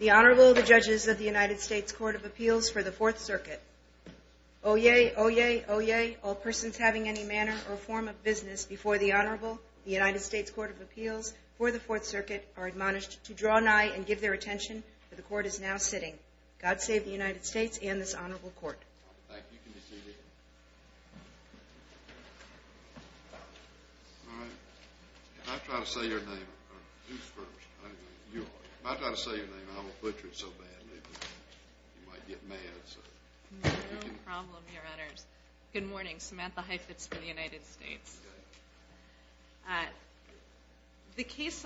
The Honorable, the Judges of the United States Court of Appeals for the Fourth Circuit. Oyez, oyez, oyez, all persons having any manner or form of business before the Honorable, the United States Court of Appeals for the Fourth Circuit, are admonished to draw nigh and give their attention, for the Court is now sitting. God save the United States and this Honorable Court. If I try to say your name, I will butcher it so badly, you might get mad. No problem, Your Honors. Good morning, Samantha Heifetz for the United States. The case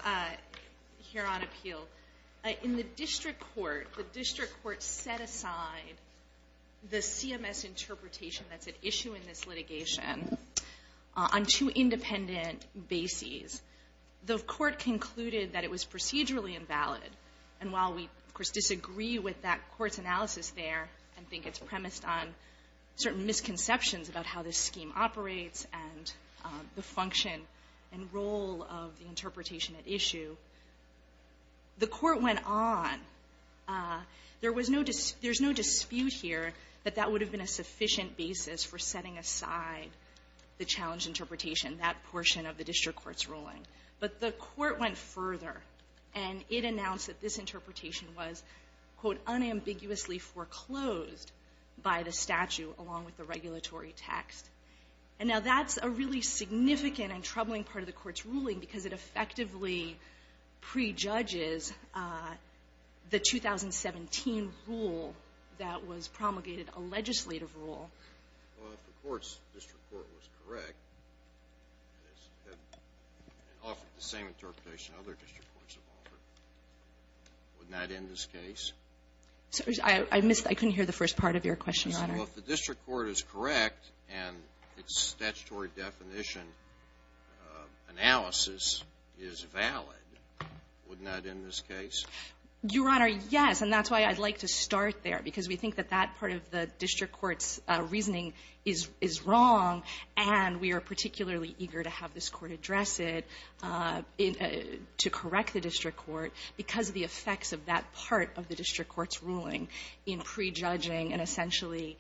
here on appeal, in the district court, the district court set aside the CMS interpretation that's at issue in this litigation on two independent bases. The court concluded that it was procedurally invalid, and while we, of course, disagree with that court's analysis there and think it's premised on certain misconceptions about how this scheme operates and the function and role of the interpretation at issue, the court went on. There was no dispute here that that would have been a sufficient basis for setting aside the challenge interpretation, but the court went further and it announced that this interpretation was, quote, unambiguously foreclosed by the statute along with the regulatory text. And now that's a really significant and troubling part of the court's ruling because it effectively prejudges the 2017 rule that was promulgated, a legislative rule. Well, if the court's district court was correct and offered the same interpretation other district courts have offered, wouldn't that end this case? I missed the first part of your question, Your Honor. Well, if the district court is correct and its statutory definition analysis is valid, wouldn't that end this case? Your Honor, yes. And that's why I'd like to start there because we think that that part of the district court's reasoning is wrong and we are particularly eager to have this court address it to correct the district court because of the effects of that part of the district court's ruling in prejudging and essentially,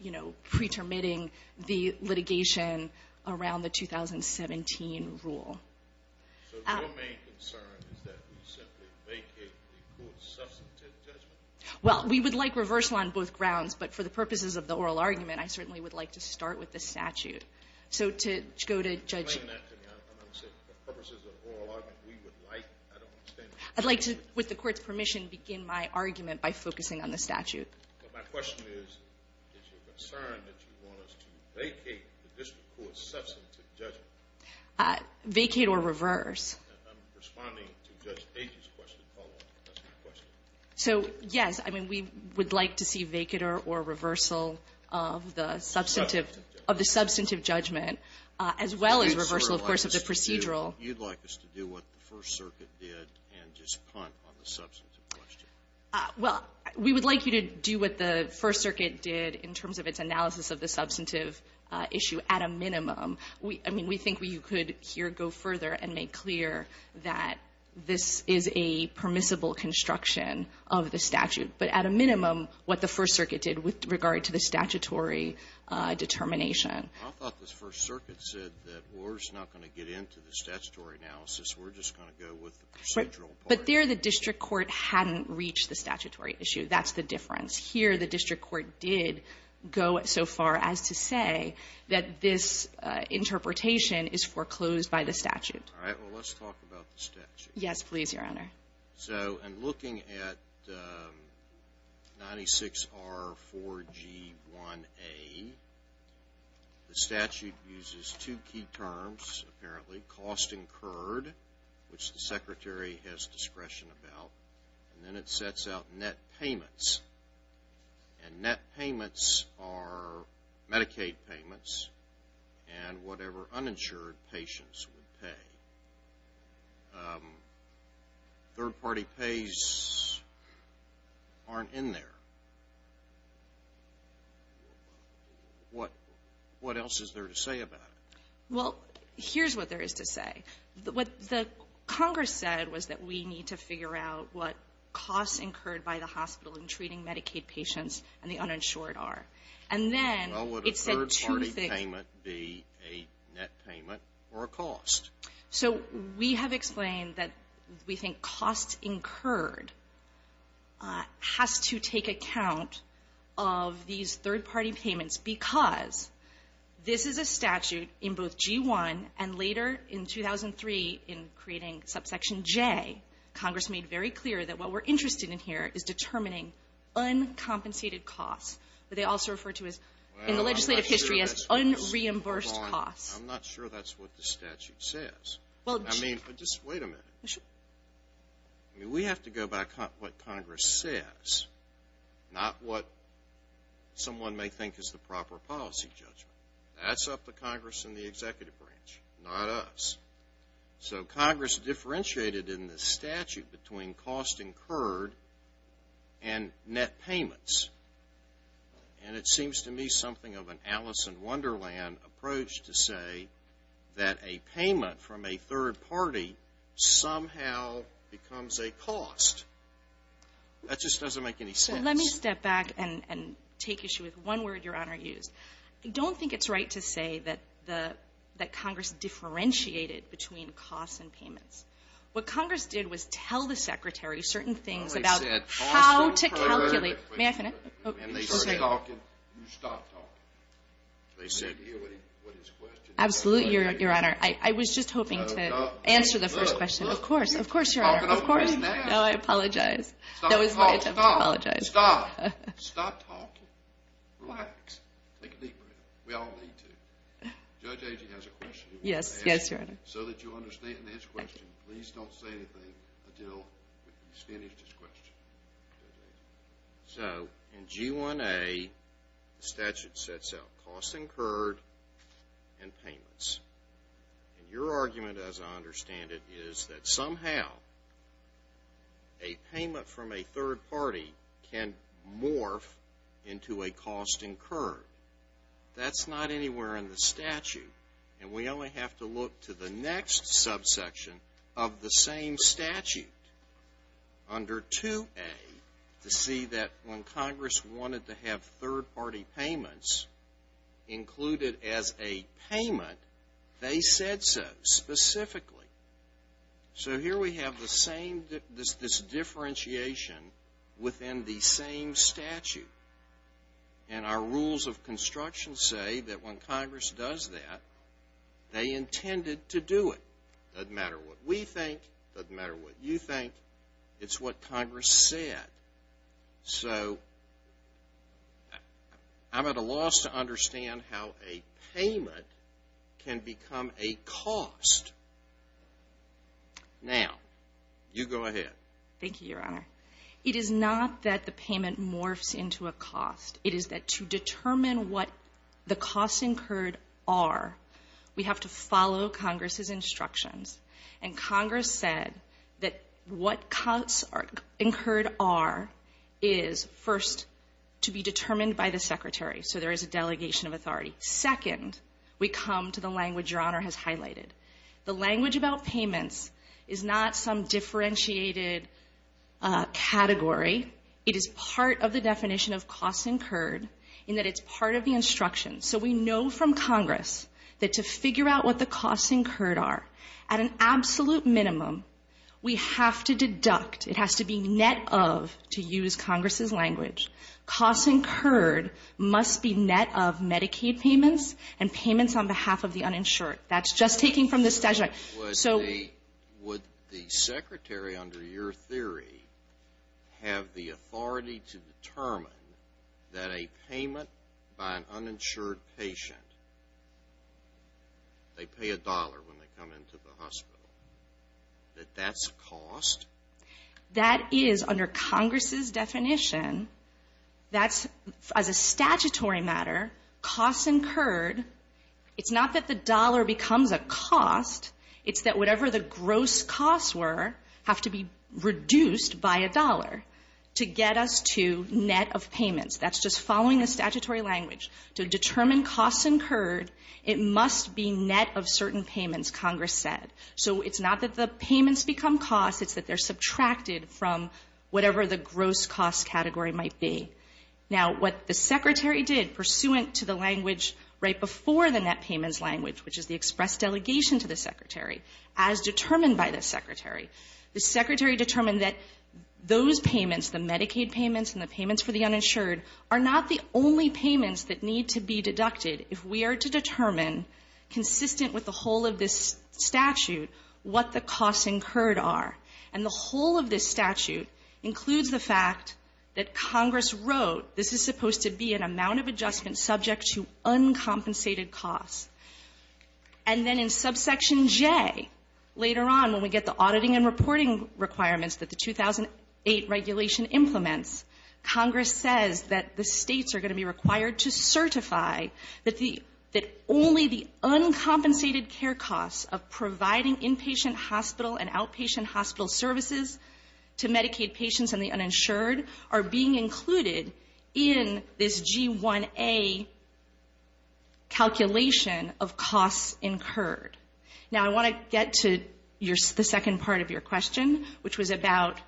you know, pretermitting the litigation around the 2017 rule. So your main concern is that we simply vacate the court's substantive judgment? Well, we would like reversal on both grounds, but for the purposes of the oral argument, I certainly would like to start with the statute. So to go to Judge — Explain that to me. I'm going to say, for purposes of oral argument, we would like — I don't understand — I'd like to, with the court's permission, begin my argument by focusing on the statute. Well, my question is, is your concern that you want us to vacate the district court's substantive judgment? Vacate or reverse? I'm responding to Judge Agy's question, follow-up. That's my question. So, yes, I mean, we would like to see vacater or reversal of the substantive judgment, as well as reversal, of course, of the procedural. You'd like us to do what the First Circuit did and just punt on the substantive question? Well, we would like you to do what the First Circuit did in terms of its analysis of the substantive issue at a minimum. I mean, we think you could here go further and make clear that this is a permissible construction of the statute, but at a minimum, what the First Circuit did with regard to the statutory determination. I thought the First Circuit said that we're just not going to get into the statutory analysis. We're just going to go with the procedural part. But there, the district court hadn't reached the statutory issue. That's the difference. Here, the district court did go so far as to say that this interpretation is foreclosed by the statute. All right. Well, let's talk about the statute. Yes, please, Your Honor. So in looking at 96R4G1A, the statute uses two key terms, apparently, which the Secretary has discretion about, and then it sets out net payments. And net payments are Medicaid payments and whatever uninsured patients would pay. Third-party pays aren't in there. What else is there to say about it? Well, here's what there is to say. What the Congress said was that we need to figure out what costs incurred by the hospital in treating Medicaid patients and the uninsured are. And then it said two things. Well, would a third-party payment be a net payment or a cost? So we have explained that we think costs incurred has to take account of these third-party payments because this is a statute in both G1 and later in 2003 in creating subsection J, Congress made very clear that what we're interested in here is determining uncompensated costs, but they also refer to it in the legislative history as unreimbursed costs. I'm not sure that's what the statute says. I mean, just wait a minute. I mean, we have to go by what Congress says, not what someone may think is the proper policy judgment. That's up to Congress and the executive branch, not us. So Congress differentiated in the statute between cost incurred and net payments. And it seems to me something of an Alice in Wonderland approach to say that a payment from a third party somehow becomes a cost. That just doesn't make any sense. So let me step back and take issue with one word Your Honor used. I don't think it's right to say that Congress differentiated between costs and payments. What Congress did was tell the Secretary certain things about how to calculate. May I finish? You stop talking. They said, you know what his question is. Absolutely, Your Honor. I was just hoping to answer the first question. Of course. Of course, Your Honor. Of course. No, I apologize. That was my attempt to apologize. Stop. Stop talking. Relax. Take a deep breath. We all need to. Judge Agee has a question he wants to ask. Yes, Your Honor. So that you understand his question, please don't say anything until he's finished his question. So in G1A, the statute sets out cost incurred and payments. And your argument, as I understand it, is that somehow a payment from a third party can morph into a cost incurred. That's not anywhere in the statute. And we only have to look to the next subsection of the same statute. Under 2A, to see that when Congress wanted to have third party payments included as a payment, they said so specifically. So here we have this differentiation within the same statute. And our rules of construction say that when Congress does that, they intended to do it. Doesn't matter what we think. Doesn't matter what you think. It's what Congress said. So I'm at a loss to understand how a payment can become a cost. Now, you go ahead. Thank you, Your Honor. It is not that the payment morphs into a cost. It is that to determine what the costs incurred are, we have to follow Congress's instructions. And Congress said that what costs incurred are is, first, to be determined by the Secretary. So there is a delegation of authority. Second, we come to the language Your Honor has highlighted. The language about payments is not some differentiated category. It is part of the definition of costs incurred in that it's part of the instructions. So we know from Congress that to figure out what the costs incurred are, at an absolute minimum, we have to deduct. It has to be net of, to use Congress's language, costs incurred must be net of Medicaid payments and payments on behalf of the uninsured. That's just taking from the statute. Would the Secretary, under your theory, have the authority to determine that a payment by an uninsured patient, they pay a dollar when they come into the hospital, that that's a cost? That is, under Congress's definition, that's, as a statutory matter, costs incurred It's not that the dollar becomes a cost. It's that whatever the gross costs were have to be reduced by a dollar to get us to net of payments. That's just following the statutory language. To determine costs incurred, it must be net of certain payments, Congress said. So it's not that the payments become costs. It's that they're subtracted from whatever the gross cost category might be. Now, what the Secretary did, pursuant to the language right before the net payments language, which is the express delegation to the Secretary, as determined by the Secretary, the Secretary determined that those payments, the Medicaid payments and the payments for the uninsured, are not the only payments that need to be deducted if we are to determine, consistent with the whole of this statute, what the costs incurred are. And the whole of this statute includes the fact that Congress wrote this is supposed to be an amount of adjustment subject to uncompensated costs. And then in subsection J, later on, when we get the auditing and reporting requirements that the 2008 regulation implements, Congress says that the states are going to be required to certify that the, that only the uncompensated care costs of providing inpatient hospital and outpatient hospital services to Medicaid patients and the uninsured are being included in this G1A calculation of costs incurred. Now, I want to get to your, the second part of your question, which was about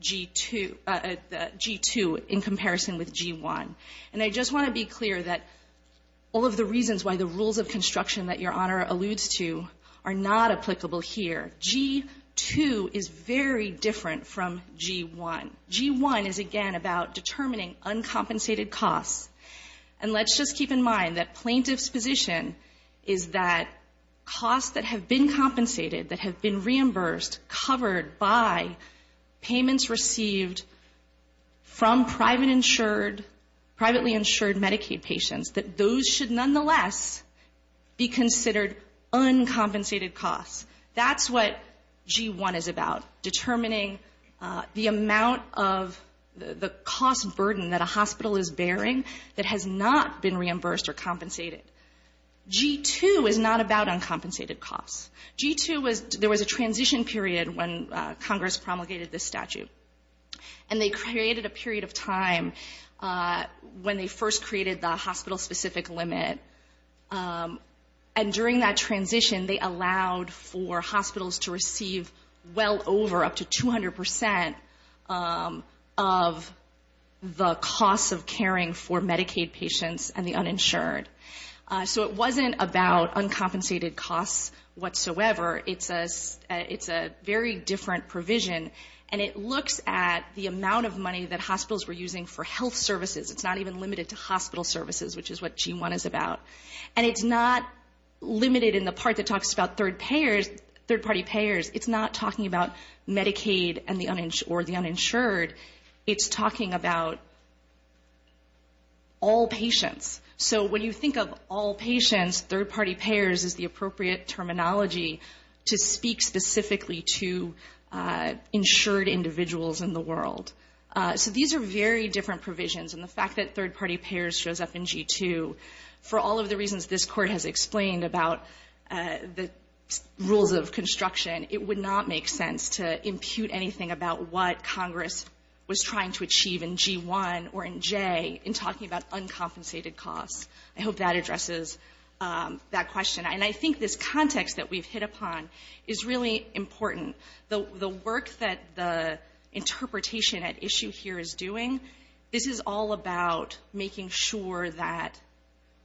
G2, G2 in comparison with G1. And I just want to be clear that all of the reasons why the rules of construction that Your Honor alludes to are not applicable here. G2 is very different from G1. G1 is, again, about determining uncompensated costs. And let's just keep in mind that plaintiff's position is that costs that have been compensated, that have been reimbursed, covered by payments received from private uninsured, privately insured Medicaid patients, that those should nonetheless be considered uncompensated costs. That's what G1 is about, determining the amount of the cost burden that a hospital is bearing that has not been reimbursed or compensated. G2 is not about uncompensated costs. G2 was, there was a transition period when Congress promulgated this statute. And they created a period of time when they first created the hospital-specific limit. And during that transition, they allowed for hospitals to receive well over up to 200% of the costs of caring for Medicaid patients and the uninsured. So it wasn't about uncompensated costs whatsoever. It's a very different provision. And it looks at the amount of money that hospitals were using for health services. It's not even limited to hospital services, which is what G1 is about. And it's not limited in the part that talks about third-party payers. It's not talking about Medicaid or the uninsured. It's talking about all patients. So when you think of all patients, third-party payers is the appropriate terminology to speak specifically to insured individuals in the world. So these are very different provisions. And the fact that third-party payers shows up in G2, for all of the reasons this Court has explained about the rules of construction, it would not make sense to impute anything about what Congress was trying to achieve in G1 or in J in talking about uncompensated costs. I hope that addresses that question. And I think this context that we've hit upon is really important. The work that the interpretation at issue here is doing, this is all about making sure that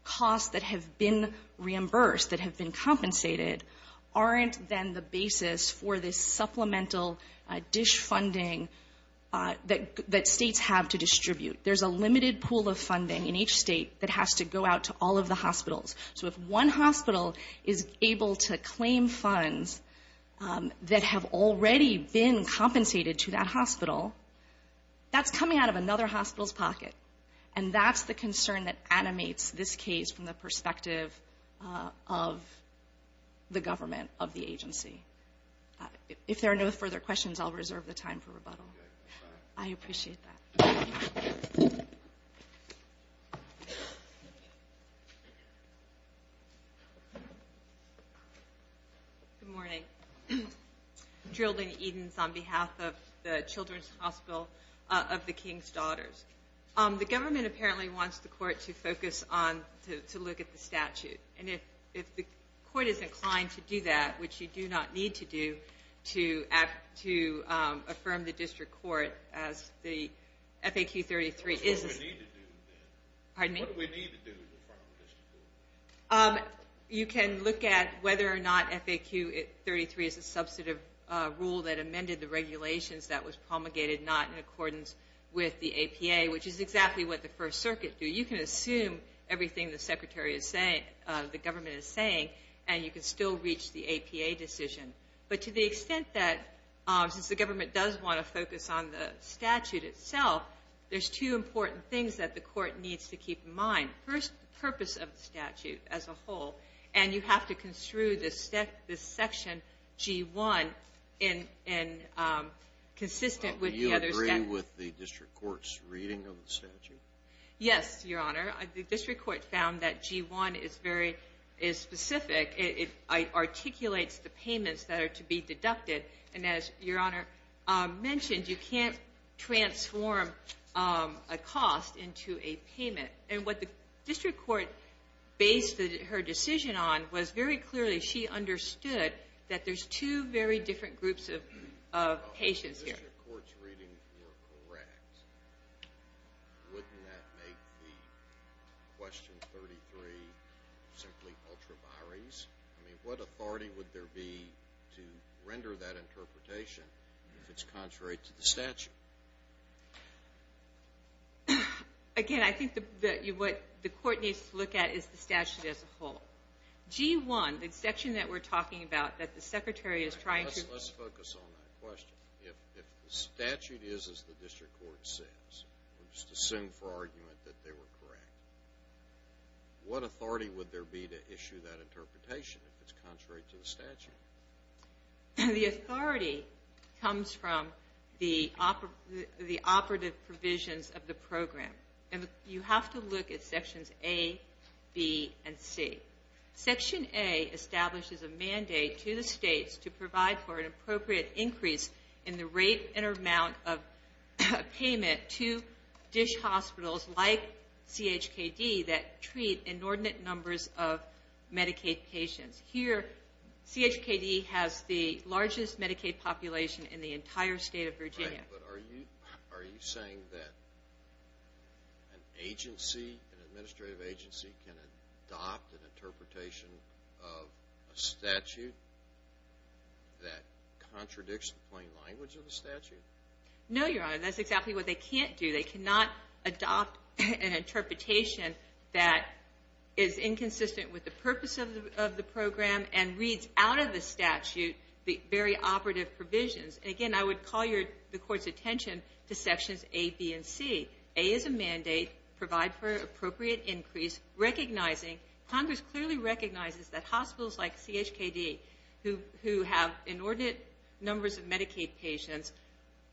costs that have been reimbursed, that have been compensated, aren't then the basis for this supplemental dish funding that states have to distribute. There's a limited pool of funding in each state that has to go out to all of the hospitals. So if one hospital is able to claim funds that have already been compensated to that hospital, that's coming out of another hospital's pocket. And that's the concern that animates this case from the perspective of the government, of the agency. If there are no further questions, I'll reserve the time for rebuttal. I appreciate that. Good morning. Geraldine Edens on behalf of the Children's Hospital of the King's Daughters. The government apparently wants the court to focus on, to look at the statute. And if the court is inclined to do that, which you do not need to do, to affirm the district court as the FAQ 33. What do we need to do then? Pardon me? What do we need to do to affirm the district court? You can look at whether or not FAQ 33 is a substantive rule that amended the regulations that was promulgated, not in accordance with the APA, which is exactly what the First Circuit do. So you can assume everything the government is saying, and you can still reach the APA decision. But to the extent that, since the government does want to focus on the statute itself, there's two important things that the court needs to keep in mind. First, the purpose of the statute as a whole. And you have to construe this section, G1, consistent with the other statute. Do you agree with the district court's reading of the statute? Yes, Your Honor. The district court found that G1 is very specific. It articulates the payments that are to be deducted. And as Your Honor mentioned, you can't transform a cost into a payment. And what the district court based her decision on was, very clearly, she understood that there's two very different groups of patients here. If the district court's reading were correct, wouldn't that make the Question 33 simply ultraviaries? I mean, what authority would there be to render that interpretation if it's contrary to the statute? Again, I think what the court needs to look at is the statute as a whole. G1, the section that we're talking about that the Secretary is trying to— Let's focus on that question. If the statute is as the district court says, or just assume for argument that they were correct, what authority would there be to issue that interpretation if it's contrary to the statute? The authority comes from the operative provisions of the program. And you have to look at Sections A, B, and C. Section A establishes a mandate to the states to provide for an appropriate increase in the rate and amount of payment to dish hospitals like CHKD that treat inordinate numbers of Medicaid patients. Here, CHKD has the largest Medicaid population in the entire state of Virginia. But are you saying that an agency, an administrative agency, can adopt an interpretation of a statute that contradicts the plain language of the statute? No, Your Honor, that's exactly what they can't do. They cannot adopt an interpretation that is inconsistent with the purpose of the program and reads out of the statute the very operative provisions. And again, I would call the Court's attention to Sections A, B, and C. A is a mandate to provide for an appropriate increase, recognizing Congress clearly recognizes that hospitals like CHKD, who have inordinate numbers of Medicaid patients,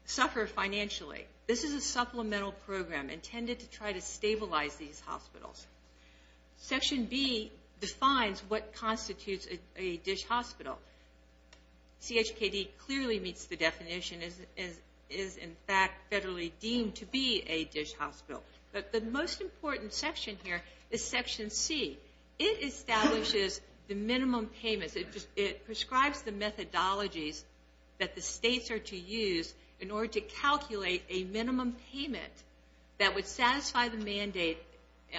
suffer financially. This is a supplemental program intended to try to stabilize these hospitals. Section B defines what constitutes a dish hospital. CHKD clearly meets the definition and is, in fact, federally deemed to be a dish hospital. But the most important section here is Section C. It establishes the minimum payments. It prescribes the methodologies that the states are to use in order to calculate a minimum payment that would satisfy the mandate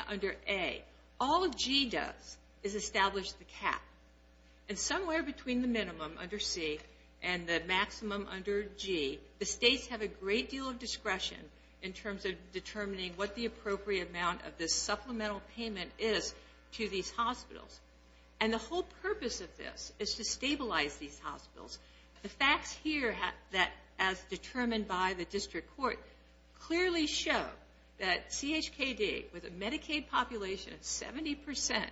under A. All G does is establish the cap. And somewhere between the minimum under C and the maximum under G, the states have a great deal of discretion in terms of determining what the appropriate amount of this supplemental payment is to these hospitals. And the whole purpose of this is to stabilize these hospitals. The facts here, as determined by the District Court, clearly show that CHKD, with a Medicaid population of 70%,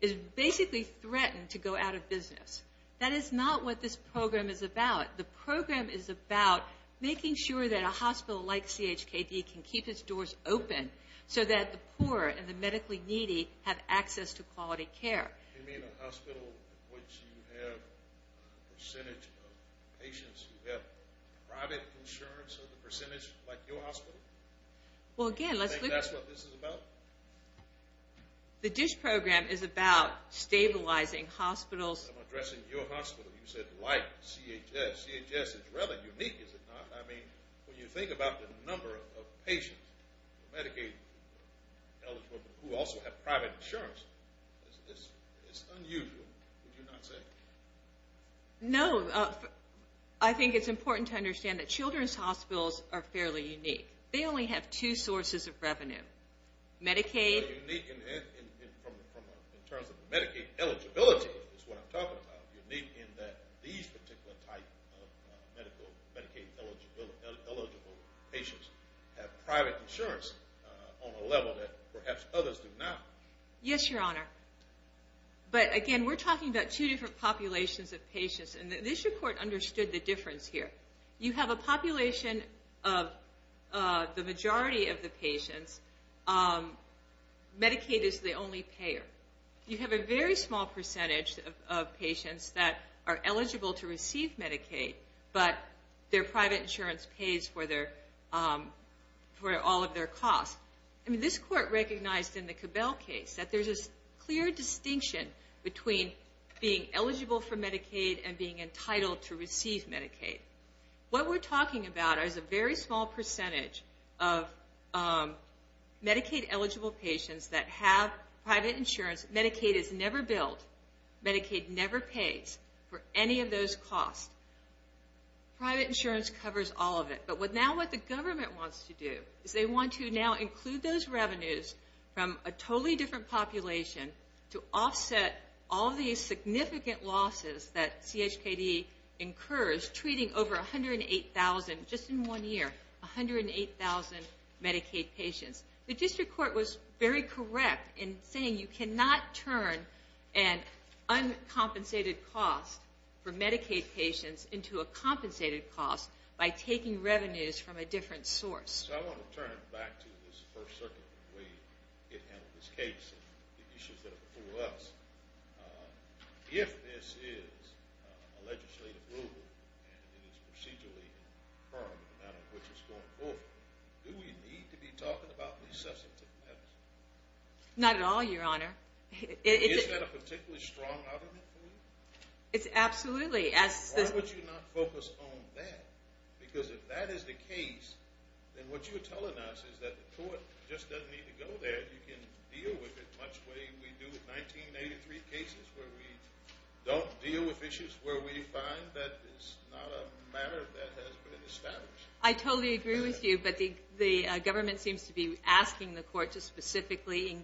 is basically threatened to go out of business. That is not what this program is about. The program is about making sure that a hospital like CHKD can keep its doors open so that the poor and the medically needy have access to quality care. You mean a hospital which you have a percentage of patients who have private insurance of the percentage like your hospital? Do you think that's what this is about? The DISH program is about stabilizing hospitals. I'm addressing your hospital. You said like CHS. CHS is rather unique, is it not? I mean, when you think about the number of patients, Medicaid eligible, who also have private insurance, it's unusual, would you not say? No. I think it's important to understand that children's hospitals are fairly unique. They only have two sources of revenue, Medicaid. Unique in terms of Medicaid eligibility is what I'm talking about. Unique in that these particular type of Medicaid eligible patients have private insurance on a level that perhaps others do not. Yes, Your Honor. But again, we're talking about two different populations of patients, and this report understood the difference here. You have a population of the majority of the patients. Medicaid is the only payer. You have a very small percentage of patients that are eligible to receive Medicaid, but their private insurance pays for all of their costs. I mean, this court recognized in the Cabell case that there's a clear distinction between being eligible for Medicaid and being entitled to receive Medicaid. What we're talking about is a very small percentage of Medicaid eligible patients that have private insurance. Medicaid is never billed. Medicaid never pays for any of those costs. Private insurance covers all of it. But now what the government wants to do is they want to now include those revenues from a totally different population to offset all these significant losses that CHKD incurs, treating over 108,000, just in one year, 108,000 Medicaid patients. The district court was very correct in saying you cannot turn an uncompensated cost for Medicaid patients into a compensated cost by taking revenues from a different source. So I want to turn back to this First Circuit way it handled this case and the issues that are before us. If this is a legislative rule and it is procedurally firm, do we need to be talking about these substantive matters? Not at all, Your Honor. Is that a particularly strong argument for you? Absolutely. Why would you not focus on that? Because if that is the case, then what you're telling us is that the court just doesn't need to go there. You can deal with it much the way we do with 1983 cases where we don't deal with issues where we find that it's not a matter that has been established. I totally agree with you, but the government seems to be asking the court to specifically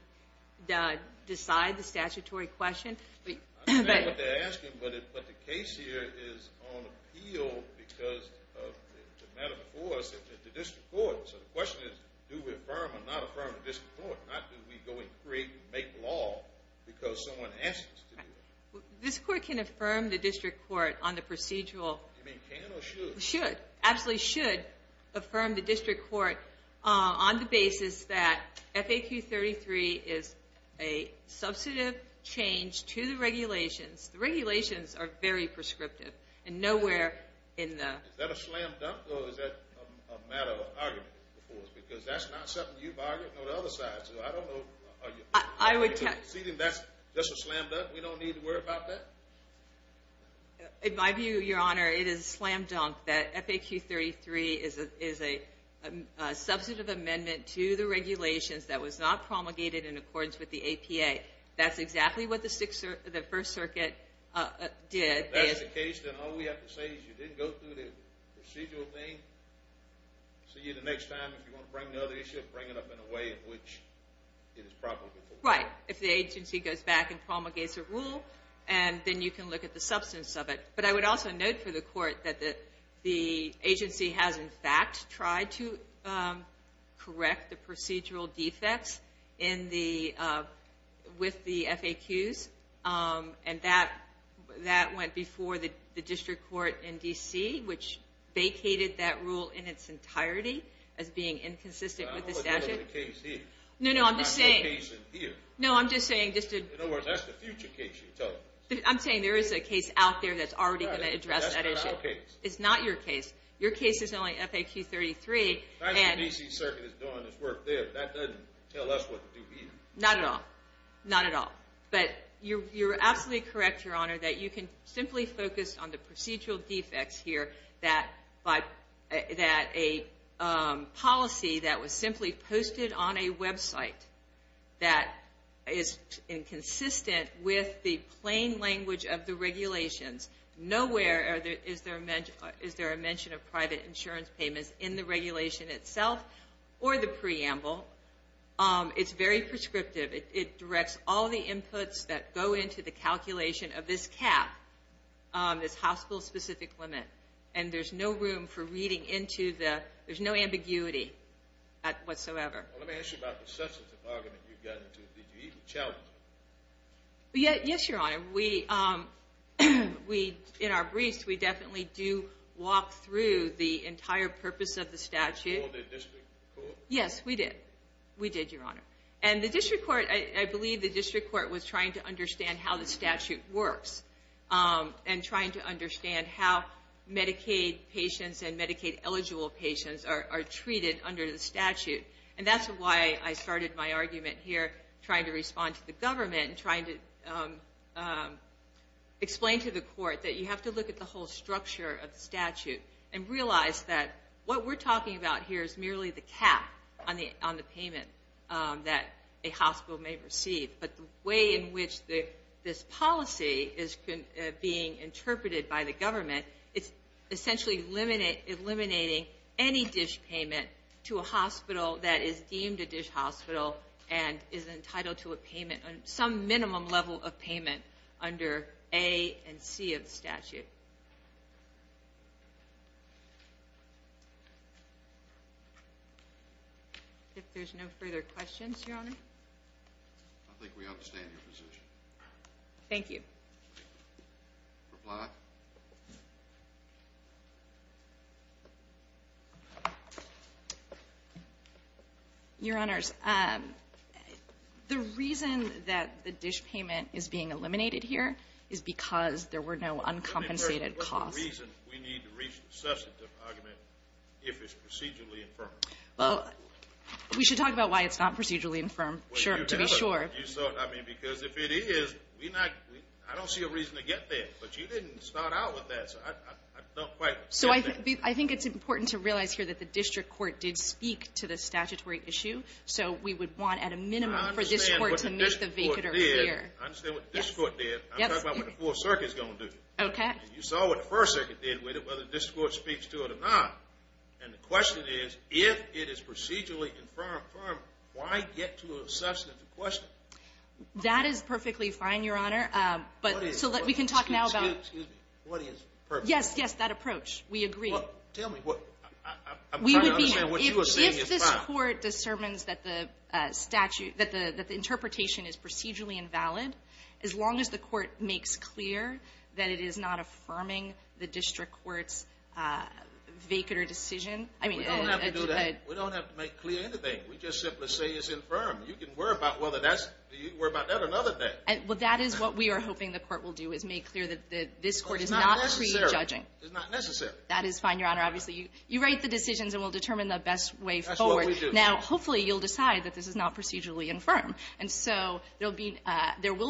decide the statutory question. I understand what they're asking, but the case here is on appeal because of the matter before us at the district court. So the question is do we affirm or not affirm the district court, not do we go and create and make law because someone asked us to do it. This court can affirm the district court on the procedural. You mean can or should? Should, absolutely should affirm the district court on the basis that FAQ 33 is a substantive change to the regulations. The regulations are very prescriptive and nowhere in the... Is that a slam dunk or is that a matter of argument before us? Because that's not something you've argued, nor the other side, so I don't know. That's a slam dunk. We don't need to worry about that? In my view, Your Honor, it is a slam dunk that FAQ 33 is a substantive amendment to the regulations that was not promulgated in accordance with the APA. That's exactly what the First Circuit did. If that's the case, then all we have to say is you didn't go through the procedural thing. See you the next time. If you want to bring another issue, bring it up in a way in which it is probable. Right. If the agency goes back and promulgates a rule, then you can look at the substance of it. But I would also note for the court that the agency has, in fact, tried to correct the procedural defects with the FAQs, and that went before the district court in D.C., which vacated that rule in its entirety as being inconsistent with the statute. I'm not dealing with the case here. No, no, I'm just saying. I'm not the case in here. No, I'm just saying. In other words, that's the future case you're telling us. I'm saying there is a case out there that's already going to address that issue. That's not our case. It's not your case. Your case is only FAQ 33. Not even the D.C. Circuit is doing its work there. That doesn't tell us what to do either. Not at all. Not at all. But you're absolutely correct, Your Honor, that you can simply focus on the procedural defects here, that a policy that was simply posted on a website that is inconsistent with the plain language of the regulations. Nowhere is there a mention of private insurance payments in the regulation itself or the preamble. It's very prescriptive. It directs all the inputs that go into the calculation of this cap, this hospital-specific limit. And there's no room for reading into the – there's no ambiguity whatsoever. Well, let me ask you about the substantive argument you've gotten to. Did you even challenge it? Yes, Your Honor. In our briefs, we definitely do walk through the entire purpose of the statute. Did you call the district court? Yes, we did. We did, Your Honor. And the district court – I believe the district court was trying to understand how the statute works and trying to understand how Medicaid patients and Medicaid-eligible patients are treated under the statute. And that's why I started my argument here trying to respond to the government and trying to explain to the court that you have to look at the whole structure of the statute and realize that what we're talking about here is merely the cap on the payment that a hospital may receive. But the way in which this policy is being interpreted by the government, it's essentially eliminating any dish payment to a hospital that is deemed a dish hospital and is entitled to some minimum level of payment under A and C of the statute. If there's no further questions, Your Honor. I think we understand your position. Thank you. Reply. Your Honor, the reason that the dish payment is being eliminated here is because there were no uncompensated costs. What's the reason we need to reach the substantive argument if it's procedurally infirm? Well, we should talk about why it's not procedurally infirm to be sure. Because if it is, I don't see a reason to get there. But you didn't start out with that, so I don't quite get that. So I think it's important to realize here that the district court did speak to the statutory issue, so we would want at a minimum for this court to make the vehicular here. I understand what the district court did. I'm talking about what the Fourth Circuit is going to do. You saw what the First Circuit did with it, whether the district court speaks to it or not. And the question is, if it is procedurally infirm, why get to a substantive question? That is perfectly fine, Your Honor. Excuse me. What is perfectly fine? Yes, yes, that approach. We agree. Tell me. I'm trying to understand what you are saying is fine. If this court discerns that the interpretation is procedurally invalid, as long as the court makes clear that it is not affirming the district court's vehicular decision. We don't have to do that. We don't have to make clear anything. We just simply say it's infirm. You can worry about that another day. Well, that is what we are hoping the court will do, is make clear that this court is not prejudging. It's not necessary. It's not necessary. That is fine, Your Honor. Obviously, you write the decisions, and we'll determine the best way forward. That's what we do. Now, hopefully, you'll decide that this is not procedurally infirm. And so there will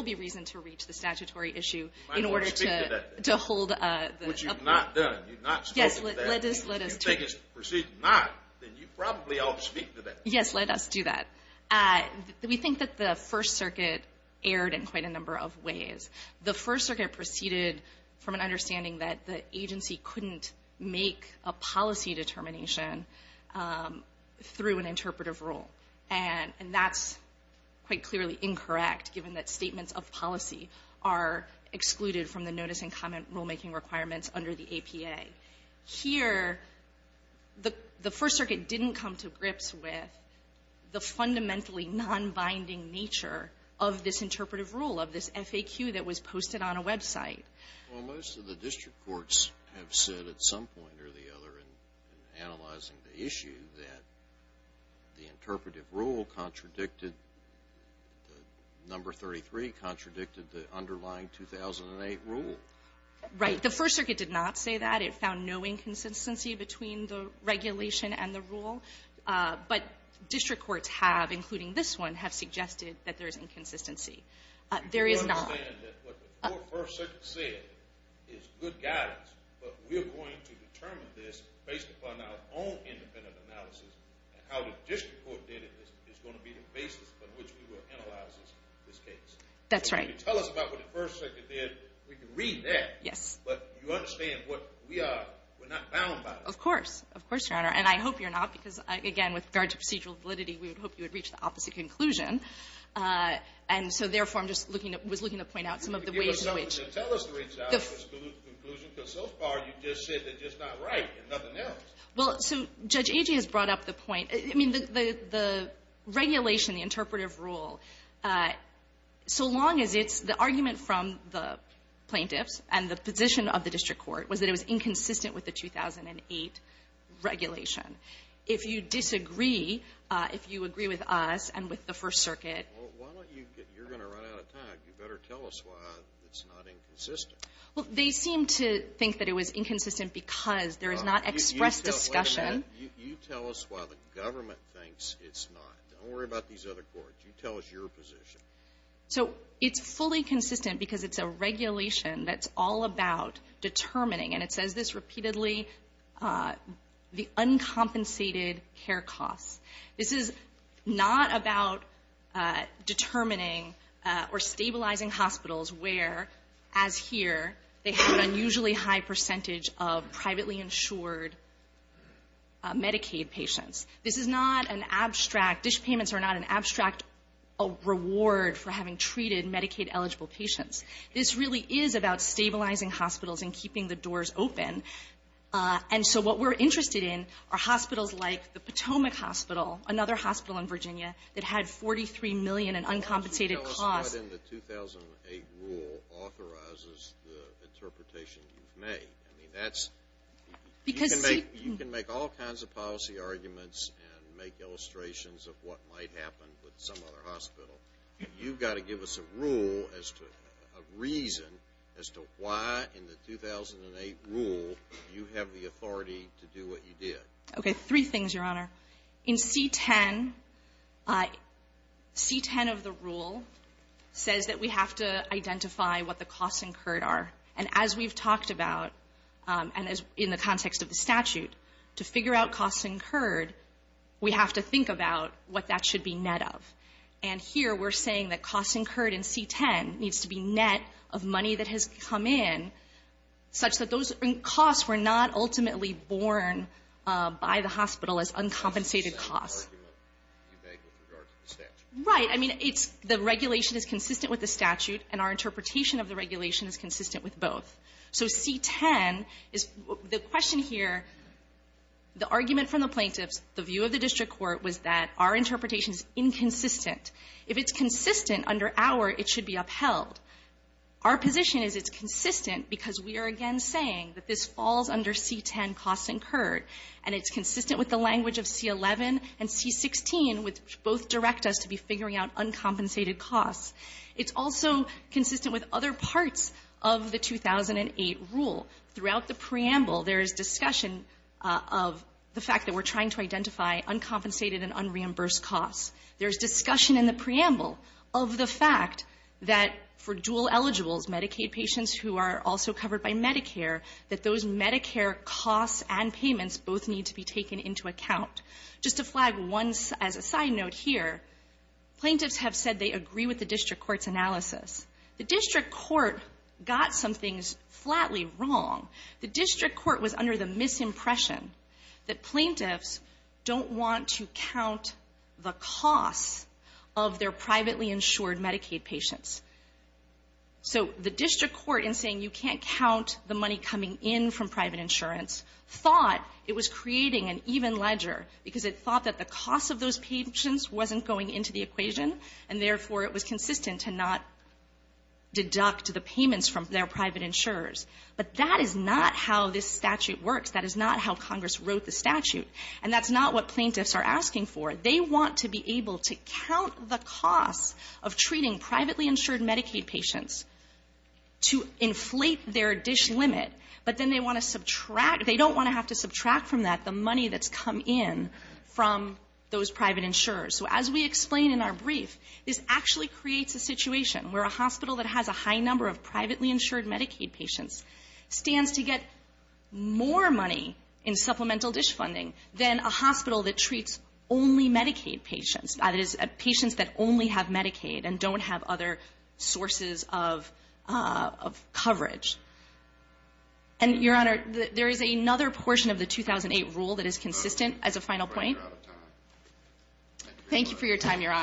be reason to reach the statutory issue in order to hold the appeal. Which you've not done. You've not spoken to that. Yes, let us do that. If you think it's procedurally not, then you probably ought to speak to that. Yes, let us do that. We think that the First Circuit erred in quite a number of ways. The First Circuit proceeded from an understanding that the agency couldn't make a policy determination through an interpretive rule. And that's quite clearly incorrect, given that statements of policy are excluded from the notice and comment rulemaking requirements under the APA. Here, the First Circuit didn't come to grips with the fundamentally nonbinding nature of this interpretive rule, of this FAQ that was posted on a website. Well, most of the district courts have said at some point or the other in analyzing the issue that the interpretive rule contradicted the number 33, contradicted the underlying 2008 rule. Right. The First Circuit did not say that. It found no inconsistency between the regulation and the rule. But district courts have, including this one, have suggested that there is inconsistency. There is not. We understand that what the First Circuit said is good guidance, but we are going to determine this based upon our own independent analysis. And how the district court did it is going to be the basis on which we will analyze this case. That's right. So if you tell us about what the First Circuit did, we can read that. Yes. But you understand what we are. We're not bound by it. Of course. Of course, Your Honor. And I hope you're not, because, again, with regard to procedural validity, we would hope you would reach the opposite conclusion. And so, therefore, I'm just looking at — was looking to point out some of the ways in which — Can you give us something to tell us to reach out to this conclusion? Because so far, you've just said that it's not right and nothing else. Well, so Judge Agee has brought up the point — I mean, the regulation, the interpretive rule, so long as it's the argument from the plaintiffs and the position of the district court was that it was inconsistent with the 2008 regulation. If you disagree, if you agree with us and with the First Circuit — Well, why don't you — you're going to run out of time. You better tell us why it's not inconsistent. Well, they seem to think that it was inconsistent because there is not expressed discussion. You tell us why the government thinks it's not. Don't worry about these other courts. You tell us your position. So it's fully consistent because it's a regulation that's all about determining, and it says this repeatedly, the uncompensated care costs. This is not about determining or stabilizing hospitals where, as here, they have an unusually high percentage of privately insured Medicaid patients. This is not an abstract — dish payments are not an abstract reward for having treated Medicaid-eligible patients. This really is about stabilizing hospitals and keeping the doors open. And so what we're interested in are hospitals like the Potomac Hospital, another hospital in Virginia that had $43 million in uncompensated costs. Why don't you tell us what in the 2008 rule authorizes the interpretation you've made? I mean, that's — Because — You can make all kinds of policy arguments and make illustrations of what might happen with some other hospital. You've got to give us a rule as to — a reason as to why in the 2008 rule you have the authority to do what you did. Okay. Three things, Your Honor. In C-10, C-10 of the rule says that we have to identify what the costs incurred are. And as we've talked about, and in the context of the statute, to figure out costs incurred, we have to think about what that should be net of. And here we're saying that costs incurred in C-10 needs to be net of money that has come in such that those costs were not ultimately borne by the hospital as uncompensated costs. That's the argument you make with regard to the statute. Right. I mean, it's — the regulation is consistent with the statute, and our interpretation is consistent with both. So C-10 is — the question here, the argument from the plaintiffs, the view of the district court was that our interpretation is inconsistent. If it's consistent under our, it should be upheld. Our position is it's consistent because we are, again, saying that this falls under C-10 costs incurred, and it's consistent with the language of C-11 and C-16, which both direct us to be figuring out uncompensated costs. It's also consistent with other parts of the 2008 rule. Throughout the preamble, there is discussion of the fact that we're trying to identify uncompensated and unreimbursed costs. There is discussion in the preamble of the fact that for dual eligibles, Medicaid patients who are also covered by Medicare, that those Medicare costs and payments both need to be taken into account. Just to flag one as a side note here, plaintiffs have said they agree with the district court's analysis. The district court got some things flatly wrong. The district court was under the misimpression that plaintiffs don't want to count the costs of their privately insured Medicaid patients. So the district court, in saying you can't count the money coming in from private insurance, thought it was creating an even ledger because it thought that the cost of those patients wasn't going into the equation, and therefore, it was consistent to not deduct the payments from their private insurers. But that is not how this statute works. That is not how Congress wrote the statute. And that's not what plaintiffs are asking for. They want to be able to count the costs of treating privately insured Medicaid patients to inflate their dish limit, but then they want to subtract. They don't want to have to subtract from that the money that's come in from those private insurers. So as we explain in our brief, this actually creates a situation where a hospital that has a high number of privately insured Medicaid patients stands to get more money in supplemental dish funding than a hospital that treats only Medicaid patients, that is, patients that only have Medicaid and don't have other sources of coverage. And, Your Honor, there is another portion of the 2008 rule that is consistent, as a final point. Thank you for your time, Your Honor.